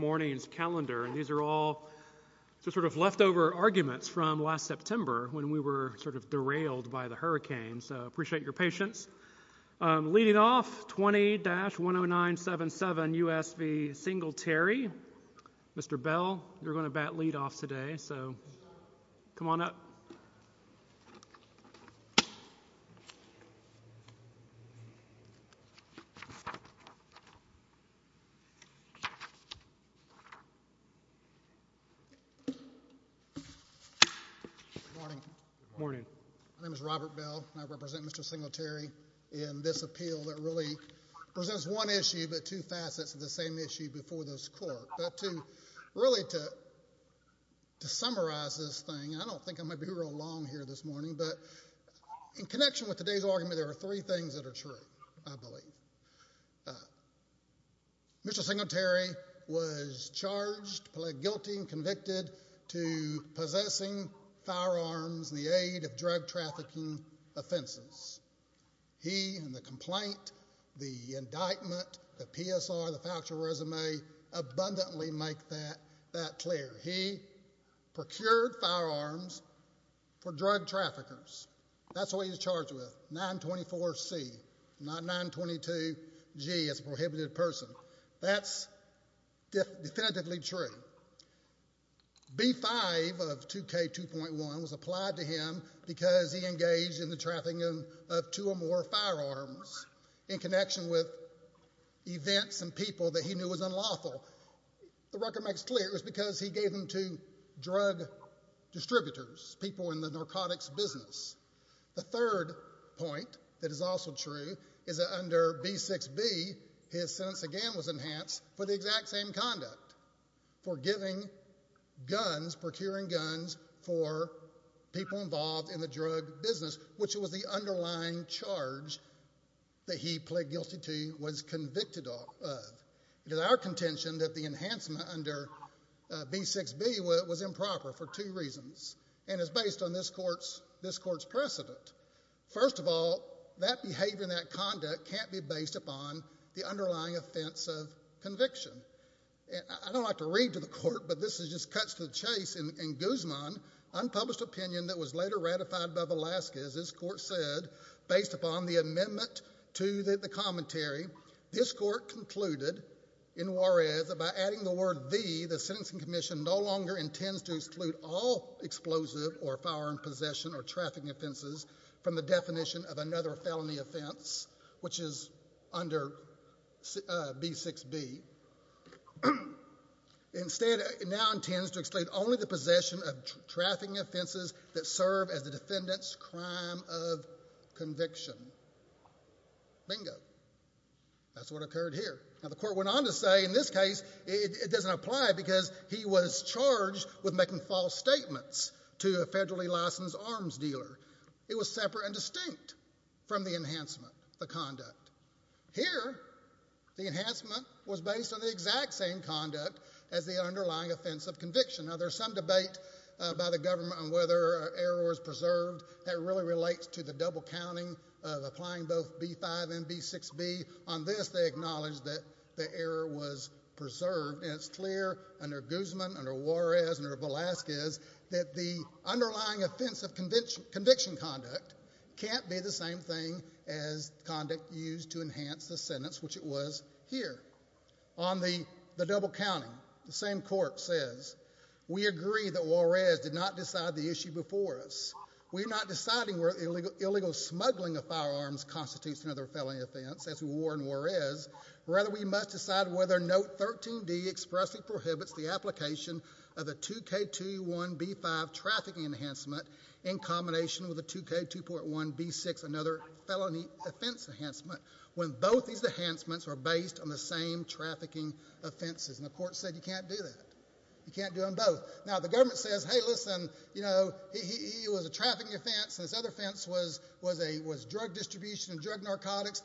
morning's calendar and these are all sort of leftover arguments from last September when we were sort of derailed by the hurricane so appreciate your patience. Leading off 20-10977 U.S. v. Singletary. Mr. Bell you're going to bat lead off today so come on up. Good morning. My name is Robert Bell and I represent Mr. Singletary in this appeal that really presents one issue but two facets of the same issue before this court but to really to summarize this thing I don't think I might be real long here this morning but in connection with today's argument there are three things that are true I believe. Mr. Singletary was charged guilty and convicted to possessing firearms in the aid of drug trafficking offenses. He and the complaint, the indictment, the PSR, the factual resume abundantly make that that clear. He procured firearms for drug traffickers that's what he's charged with 924 C not 922 G as a prohibited person. That's definitively true. B5 of 2k 2.1 was applied to him because he engaged in the trafficking of two or more firearms in connection with events and people that he knew was unlawful. The record makes clear it was because he gave them to drug distributors people in the point that is also true is that under B6b his sentence again was enhanced for the exact same conduct for giving guns procuring guns for people involved in the drug business which was the underlying charge that he pled guilty to was convicted of. It is our contention that the enhancement under B6b was improper for two reasons and is based on this court's this court's precedent. First of all that behavior in that conduct can't be based upon the underlying offense of conviction. I don't like to read to the court but this is just cuts to the chase in Guzman unpublished opinion that was later ratified by Velasquez. This court said based upon the amendment to the commentary this court concluded in Juarez about adding the word V the sentencing commission no longer intends to exclude all explosive or firearm possession or trafficking offenses from the definition of another felony offense which is under B6b. Instead it now intends to exclude only the possession of trafficking offenses that serve as the defendant's crime of conviction. Bingo. That's what occurred here. Now the court went on to say in this case it doesn't apply because he was charged with making false statements to a federally licensed arms dealer. It was separate and distinct from the enhancement the conduct. Here the enhancement was based on the exact same conduct as the underlying offense of conviction. Now there's some debate by the government on whether error was preserved that really relates to the double counting of applying both B5 and B6b. On this they acknowledged that the error was preserved and it's clear under Guzman, under Juarez, under Velasquez that the underlying offense of conviction conduct can't be the same thing as conduct used to enhance the sentence which it was here. On the double counting the same court says we agree that Juarez did not decide the issue before us. We're not deciding where illegal smuggling of firearms constitutes another felony offense as we were in Juarez. Rather we must decide whether note 13d expressly prohibits the application of a 2k21b5 trafficking enhancement in combination with a 2k2.1b6 another felony offense enhancement when both these enhancements are based on the same trafficking offenses and the court said you can't do that. You can't do them both. Now the government says hey listen you know it was a trafficking offense and this other offense was drug distribution and drug narcotics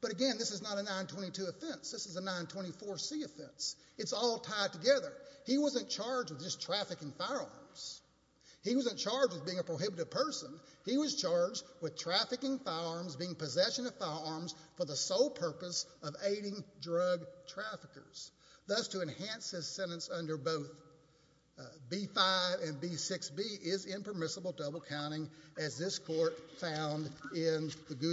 but again this is not a 922 offense. This is a 924c offense. It's all tied together. He wasn't charged with just trafficking firearms. He wasn't charged with being a prohibited person. He was charged with trafficking firearms being possession of firearms for the sole purpose of aiding drug traffickers. Thus to enhance his sentence under both b5 and b6b is impermissible double counting as this court found in the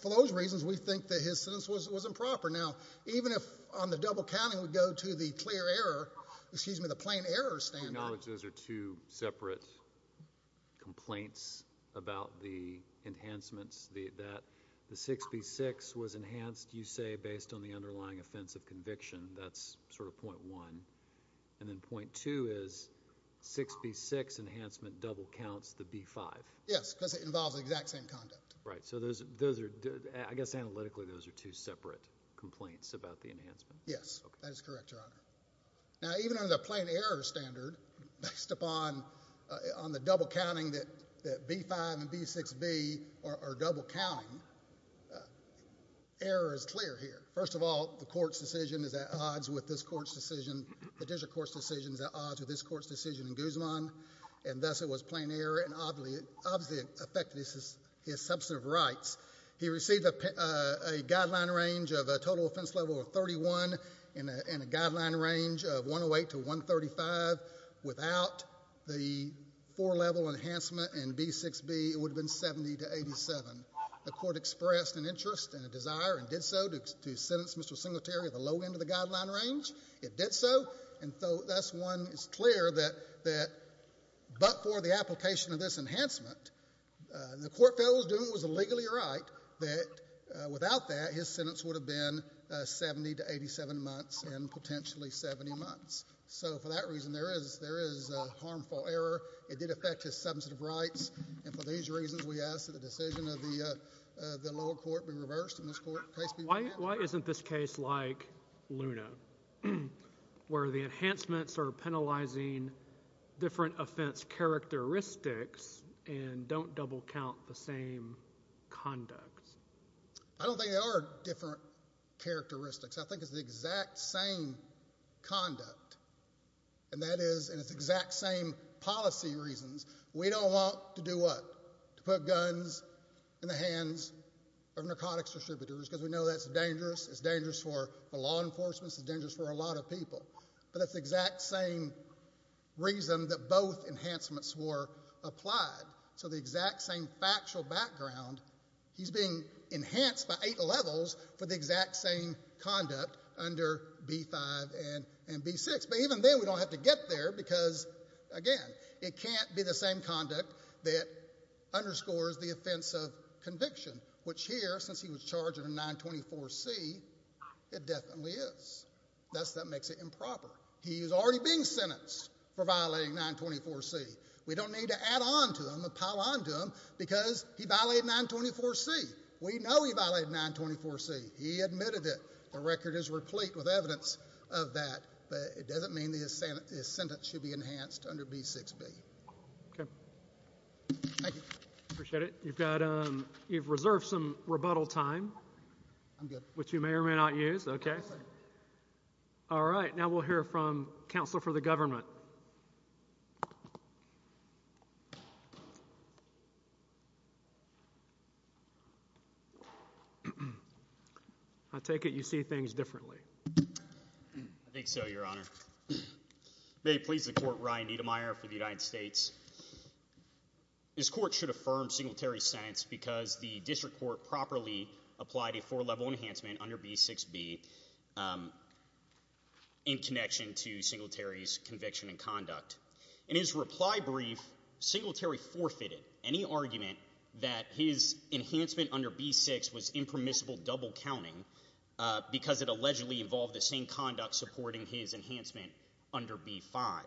For those reasons we think that his sentence was improper. Now even if on the double counting we go to the clear error excuse me the plain error standard. I acknowledge those are two separate complaints about the enhancements that the 6b6 was enhanced you say based on the underlying offense of conviction that's sort of point one and then point two is 6b6 enhancement double counts the b5. Yes because it involves the exact same conduct. Right so those are I guess analytically those are two separate complaints about the enhancement. Yes that's correct your honor. Now even under the plain error standard based upon on the double counting that b5 and b6b are double counting error is clear here. First of all the court's decision is at odds with this court's decision. The district court's decision is at odds with this court's decision in Guzman and thus it was plain error and obviously it obviously affected his substantive rights. He received a guideline range of a total offense level of 31 and a guideline range of 108 to 135 without the four level enhancement and b6b it would have been 70 to 87. The court expressed an interest and a desire and did so to sentence Mr. Singletary at the low end of the guideline range. It did so and so thus one is clear that that but for the application of this enhancement the court felt it was a legally right that without that his sentence would have been 70 to 87 months and potentially 70 months. So for that reason there is there is a harmful error. It did affect his substantive rights and for these reasons we ask that the decision of the the lower court be reversed. Why isn't this case like Luna where the enhancements are penalizing different offense characteristics and don't double count the same conduct? I don't think there are different characteristics. I think it's the exact same conduct and that is and it's exact same policy reasons. We don't want to do what? To put guns in the hands of narcotics distributors because we know that's dangerous. It's dangerous for the law enforcement. It's dangerous for a lot of people but it's exact same reason that both enhancements were applied. So the exact same factual background he's being enhanced by eight levels for the exact same conduct under b5 and b6 but even then we don't have to get there because again it can't be the same conduct that underscores the offense of conviction which here since he was charged in a 924 C it definitely is. That's that makes it improper. He is already being sentenced for violating 924 C. We don't need to add on to them or pile on to them because he violated 924 C. We know he violated 924 C. He admitted it. The record is replete with evidence of that but it doesn't mean his sentence should be enhanced under b6b. Okay. Thank you. Appreciate it. You've got um you've reserved some rebuttal time. I'm good. Which you may or may not use. Okay. All right. Now we'll hear from Counselor for the Government. I take it you see things differently. I think so your honor. May it please the court Ryan Niedermeier for the United States. This court should affirm Singletary's sentence because the district court properly applied a four In his reply brief Singletary forfeited any argument that his enhancement under b6 was impermissible double counting because it allegedly involved the same conduct supporting his enhancement under b5.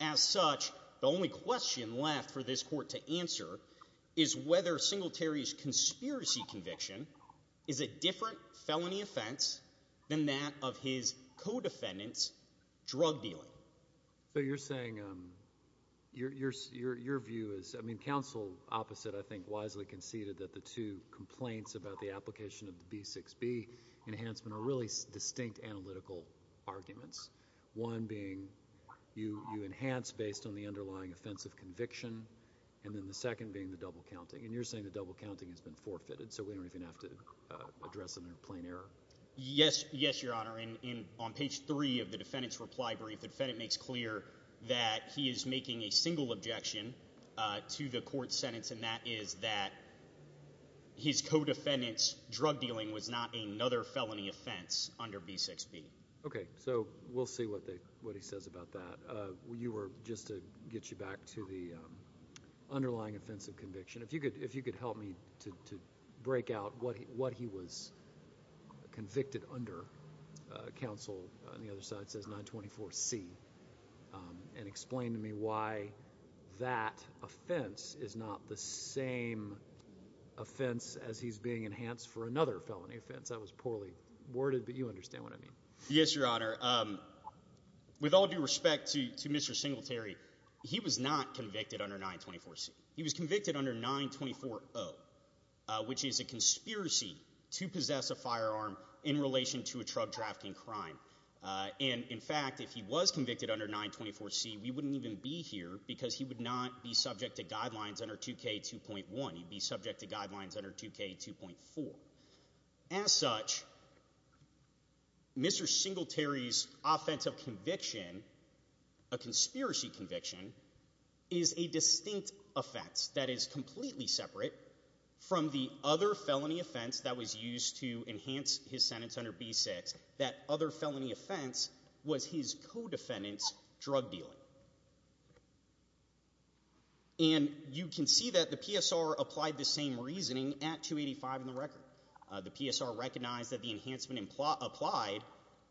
As such the only question left for this court to answer is whether Singletary's conspiracy conviction is a So you're saying your view is I mean counsel opposite I think wisely conceded that the two complaints about the application of b6b enhancement are really distinct analytical arguments. One being you enhance based on the underlying offensive conviction and then the second being the double counting and you're saying the double counting has been forfeited so we don't even have to address it in plain error. Yes your honor. On page three of the Senate makes clear that he is making a single objection to the court sentence and that is that his co-defendants drug dealing was not another felony offense under b6b. Okay so we'll see what they what he says about that. You were just to get you back to the underlying offensive conviction. If you could if you could help me to break out what what he was convicted under counsel on the other side says 924c and explain to me why that offense is not the same offense as he's being enhanced for another felony offense. I was poorly worded but you understand what I mean. Yes your honor. With all due respect to Mr. Singletary he was not convicted under 924c. He was convicted under 924o which is a in fact if he was convicted under 924c we wouldn't even be here because he would not be subject to guidelines under 2k 2.1 he'd be subject to guidelines under 2k 2.4. As such Mr. Singletary's offensive conviction a conspiracy conviction is a distinct offense that is completely separate from the other felony offense that was used to enhance his sentence under b6 that other felony offense was his co-defendants drug dealing. And you can see that the PSR applied the same reasoning at 285 in the record. The PSR recognized that the enhancement in plot applied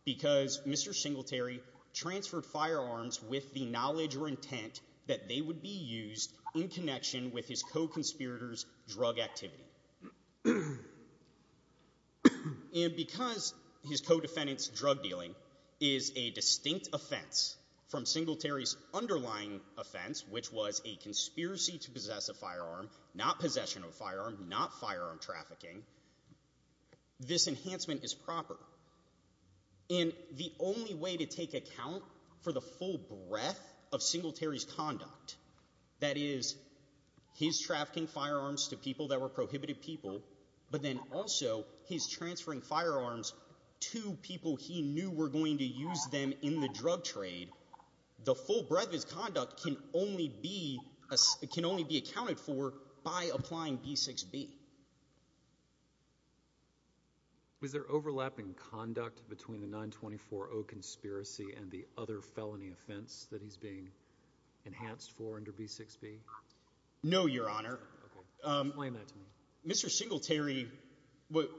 because Mr. Singletary transferred firearms with the knowledge or intent that they would be used in connection with his co defendants drug dealing is a distinct offense from Singletary's underlying offense which was a conspiracy to possess a firearm not possession of firearm not firearm trafficking. This enhancement is proper in the only way to take account for the full breadth of Singletary's conduct. That is he's trafficking firearms to people that were prohibited people but then also he's people he knew were going to use them in the drug trade. The full breadth of his conduct can only be can only be accounted for by applying b6b. Was there overlapping conduct between the 924 conspiracy and the other felony offense that he's being enhanced for under b6b? No your honor. Mr. Singletary what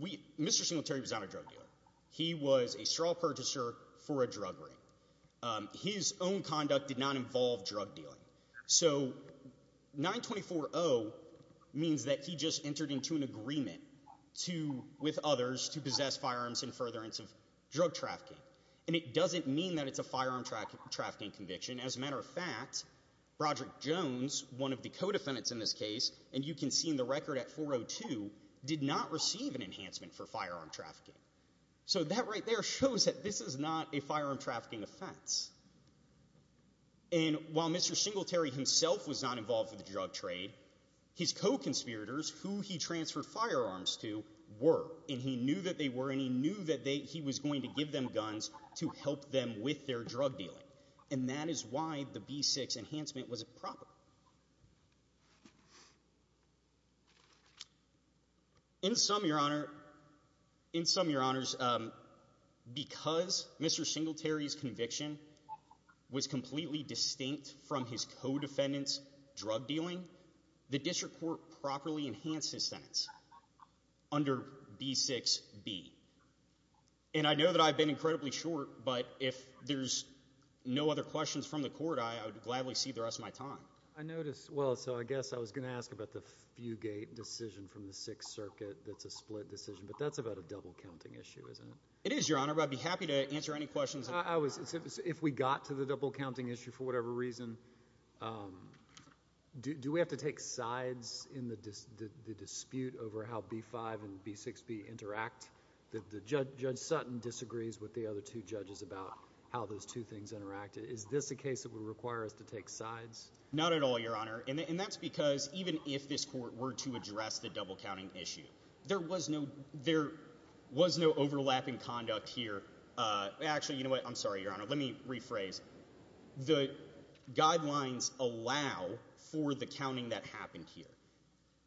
we Mr. Singletary was not a drug dealer. He was a straw purchaser for a drug ring. His own conduct did not involve drug dealing. So 924-0 means that he just entered into an agreement to with others to possess firearms in furtherance of drug trafficking. And it doesn't mean that it's a firearm trafficking conviction. As a matter of fact, Roger Jones one of the co-defendants in this case and you can see in the record at 402 did not receive an enhancement for firearm trafficking. So that right there shows that this is not a firearm trafficking offense. And while Mr. Singletary himself was not involved in the drug trade, his co-conspirators who he transferred firearms to were and he knew that they were and he knew that they he was going to give them guns to help them with their drug dealing. And that is why the b6 enhancement was improper. In sum your honor, in sum your honors, because Mr. Singletary's conviction was completely distinct from his co-defendants drug dealing, the district court properly enhanced his sentence under b6b. And I know that I've been incredibly short but if there's no other questions from the court I would gladly see the rest of my time. I noticed well so I guess I was going to ask about the Fugate decision from the Sixth Circuit that's a split decision but that's about a double counting issue isn't it? It is your honor but I'd be happy to answer any questions. I was if we got to the double counting issue for whatever reason, do we have to take sides in the dispute over how b5 and b6b interact? Judge Sutton disagrees with the other two judges about how those two things interact. Is this a case that would require us to take sides? Not at all your honor and that's because even if this court were to address the double counting issue there was no there was no overlapping conduct here. Actually you know what I'm sorry your honor let me rephrase. The guidelines allow for the counting that happened here.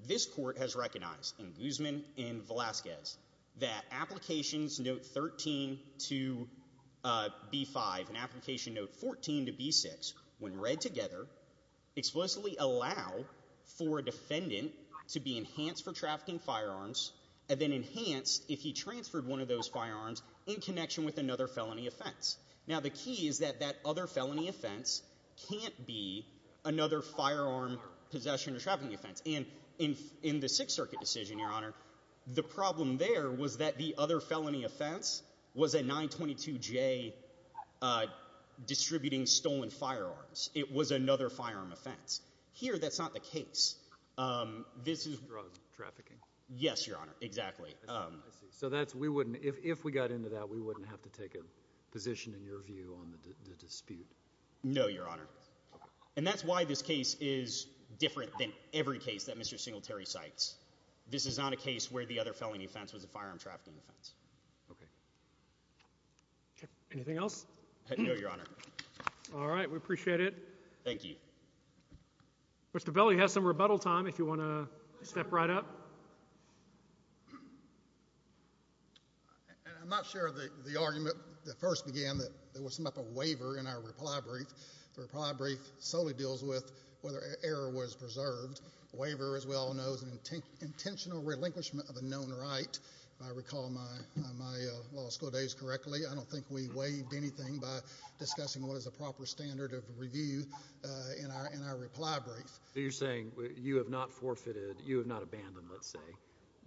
This court has recognized in Guzman and Velazquez that applications note 13 to b5 and application note 14 to b6 when read together explicitly allow for a defendant to be enhanced for trafficking firearms and then enhanced if he transferred one of those firearms in connection with another felony offense. Now the key is that that other felony offense can't be another firearm possession or trafficking offense and in the Sixth Circuit decision your honor the problem there was that the other felony offense was a 922 J distributing stolen firearms. It was another firearm offense. Here that's not the case. This is drug trafficking. Yes your honor exactly. So that's we wouldn't if we got into that we wouldn't have to take a position in your view on the different than every case that Mr. Singletary cites. This is not a case where the other felony offense was a firearm trafficking offense. Okay anything else? No your honor. All right we appreciate it. Thank you. Mr. Bell you have some rebuttal time if you want to step right up. I'm not sure the argument that first began that there was some up a waiver in our reply brief. The reply brief solely deals with whether error was preserved. Waiver as we all know is an intentional relinquishment of a known right. If I recall my law school days correctly I don't think we waived anything by discussing what is a proper standard of review in our reply brief. You're saying you have not forfeited you have not abandoned let's say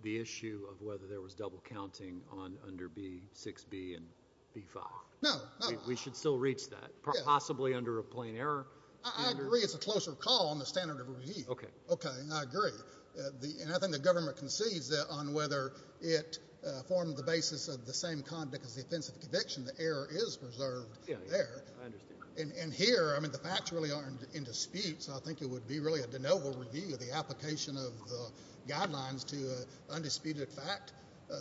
the issue of whether there was double counting on under B6B and B5. No. We should still reach that possibly under a plain error. I agree it's a closer call on the standard of review. Okay okay I agree the and I think the government concedes that on whether it formed the basis of the same conduct as the offensive conviction the error is preserved there. And here I mean the facts really aren't in dispute so I think it would be really a de novo review of the application of the guidelines to undisputed fact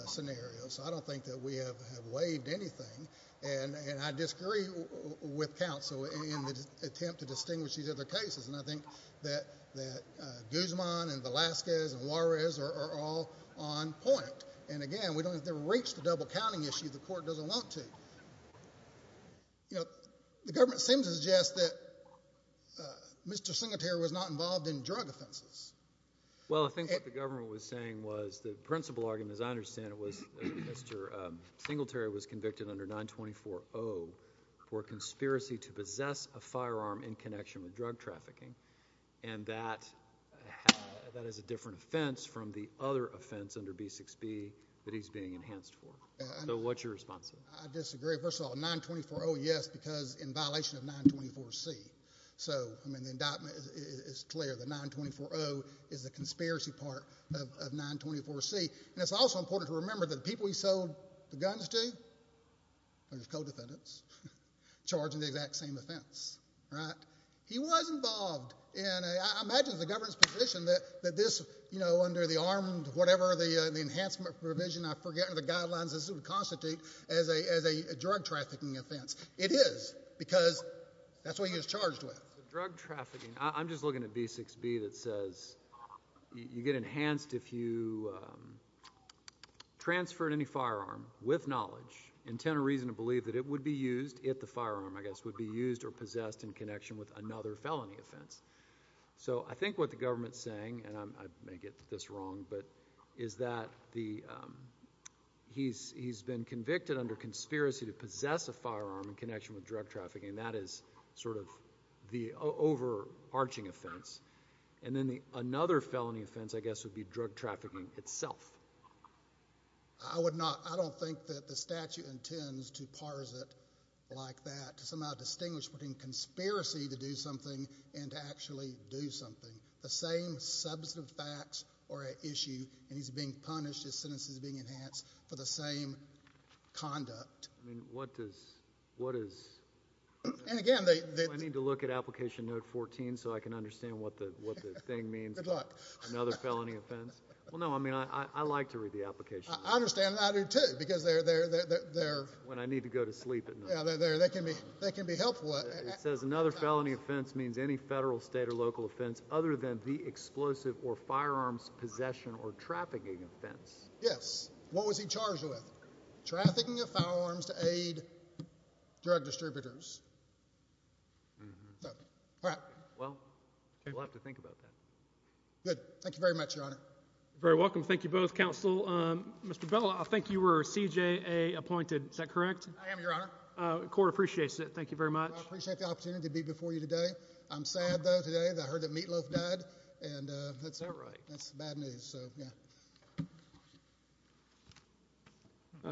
scenarios. I don't think that we have waived anything and and I disagree with counsel in the attempt to distinguish these other cases and I think that that Guzman and Velasquez and Juarez are all on point and again we don't have to reach the double counting issue the court doesn't want to. You know the government seems to suggest that Mr. Singletary was not involved in drug offenses. Well I think what the government was saying was the principal argument as I understand it was Mr. Singletary was convicted under 924-0 for a conspiracy to possess a firearm in connection with drug trafficking and that that is a different offense from the other offense under B6B that he's being enhanced for. So what's your response? I disagree first of all 924-0 yes because in violation of 924-C so I mean the indictment is clear the 924-0 is the conspiracy part of 924-C and it's also important to know the guns do. There's co-defendants charging the exact same offense right. He was involved and I imagine the government's position that that this you know under the armed whatever the the enhancement provision I forget the guidelines this would constitute as a as a drug trafficking offense. It is because that's what he was charged with. Drug trafficking I'm just looking at B6B that says you get enhanced if you transfer any firearm with knowledge intend a reason to believe that it would be used if the firearm I guess would be used or possessed in connection with another felony offense. So I think what the government's saying and I may get this wrong but is that the he's he's been convicted under conspiracy to possess a firearm in connection with drug trafficking that is sort of the over arching offense and then the another felony offense I guess would be drug trafficking itself. I would not I don't think that the statute intends to parse it like that to somehow distinguish between conspiracy to do something and to actually do something. The same substantive facts are at issue and he's being punished his sentences being enhanced for the same conduct. I mean what does what is and again they need to look at application note 14 so I can understand what the what the thing means good luck another felony offense. Well no I mean I like to read the application. I understand I do too because they're there they're when I need to go to sleep and they're there they can be they can be helpful. It says another felony offense means any federal state or local offense other than the explosive or firearms possession or trafficking offense. Yes what was he charged with? Trafficking of firearms to aid drug distributors. Well we'll have to think about that. Good thank you very much your honor. Very welcome thank you both counsel. Mr. Bell I think you were CJA appointed is that correct? I am your honor. The court appreciates it thank you very much. I appreciate the opportunity to be before you today. I'm sad though today that I heard that Meatloaf died and that's not right that's bad news so yeah.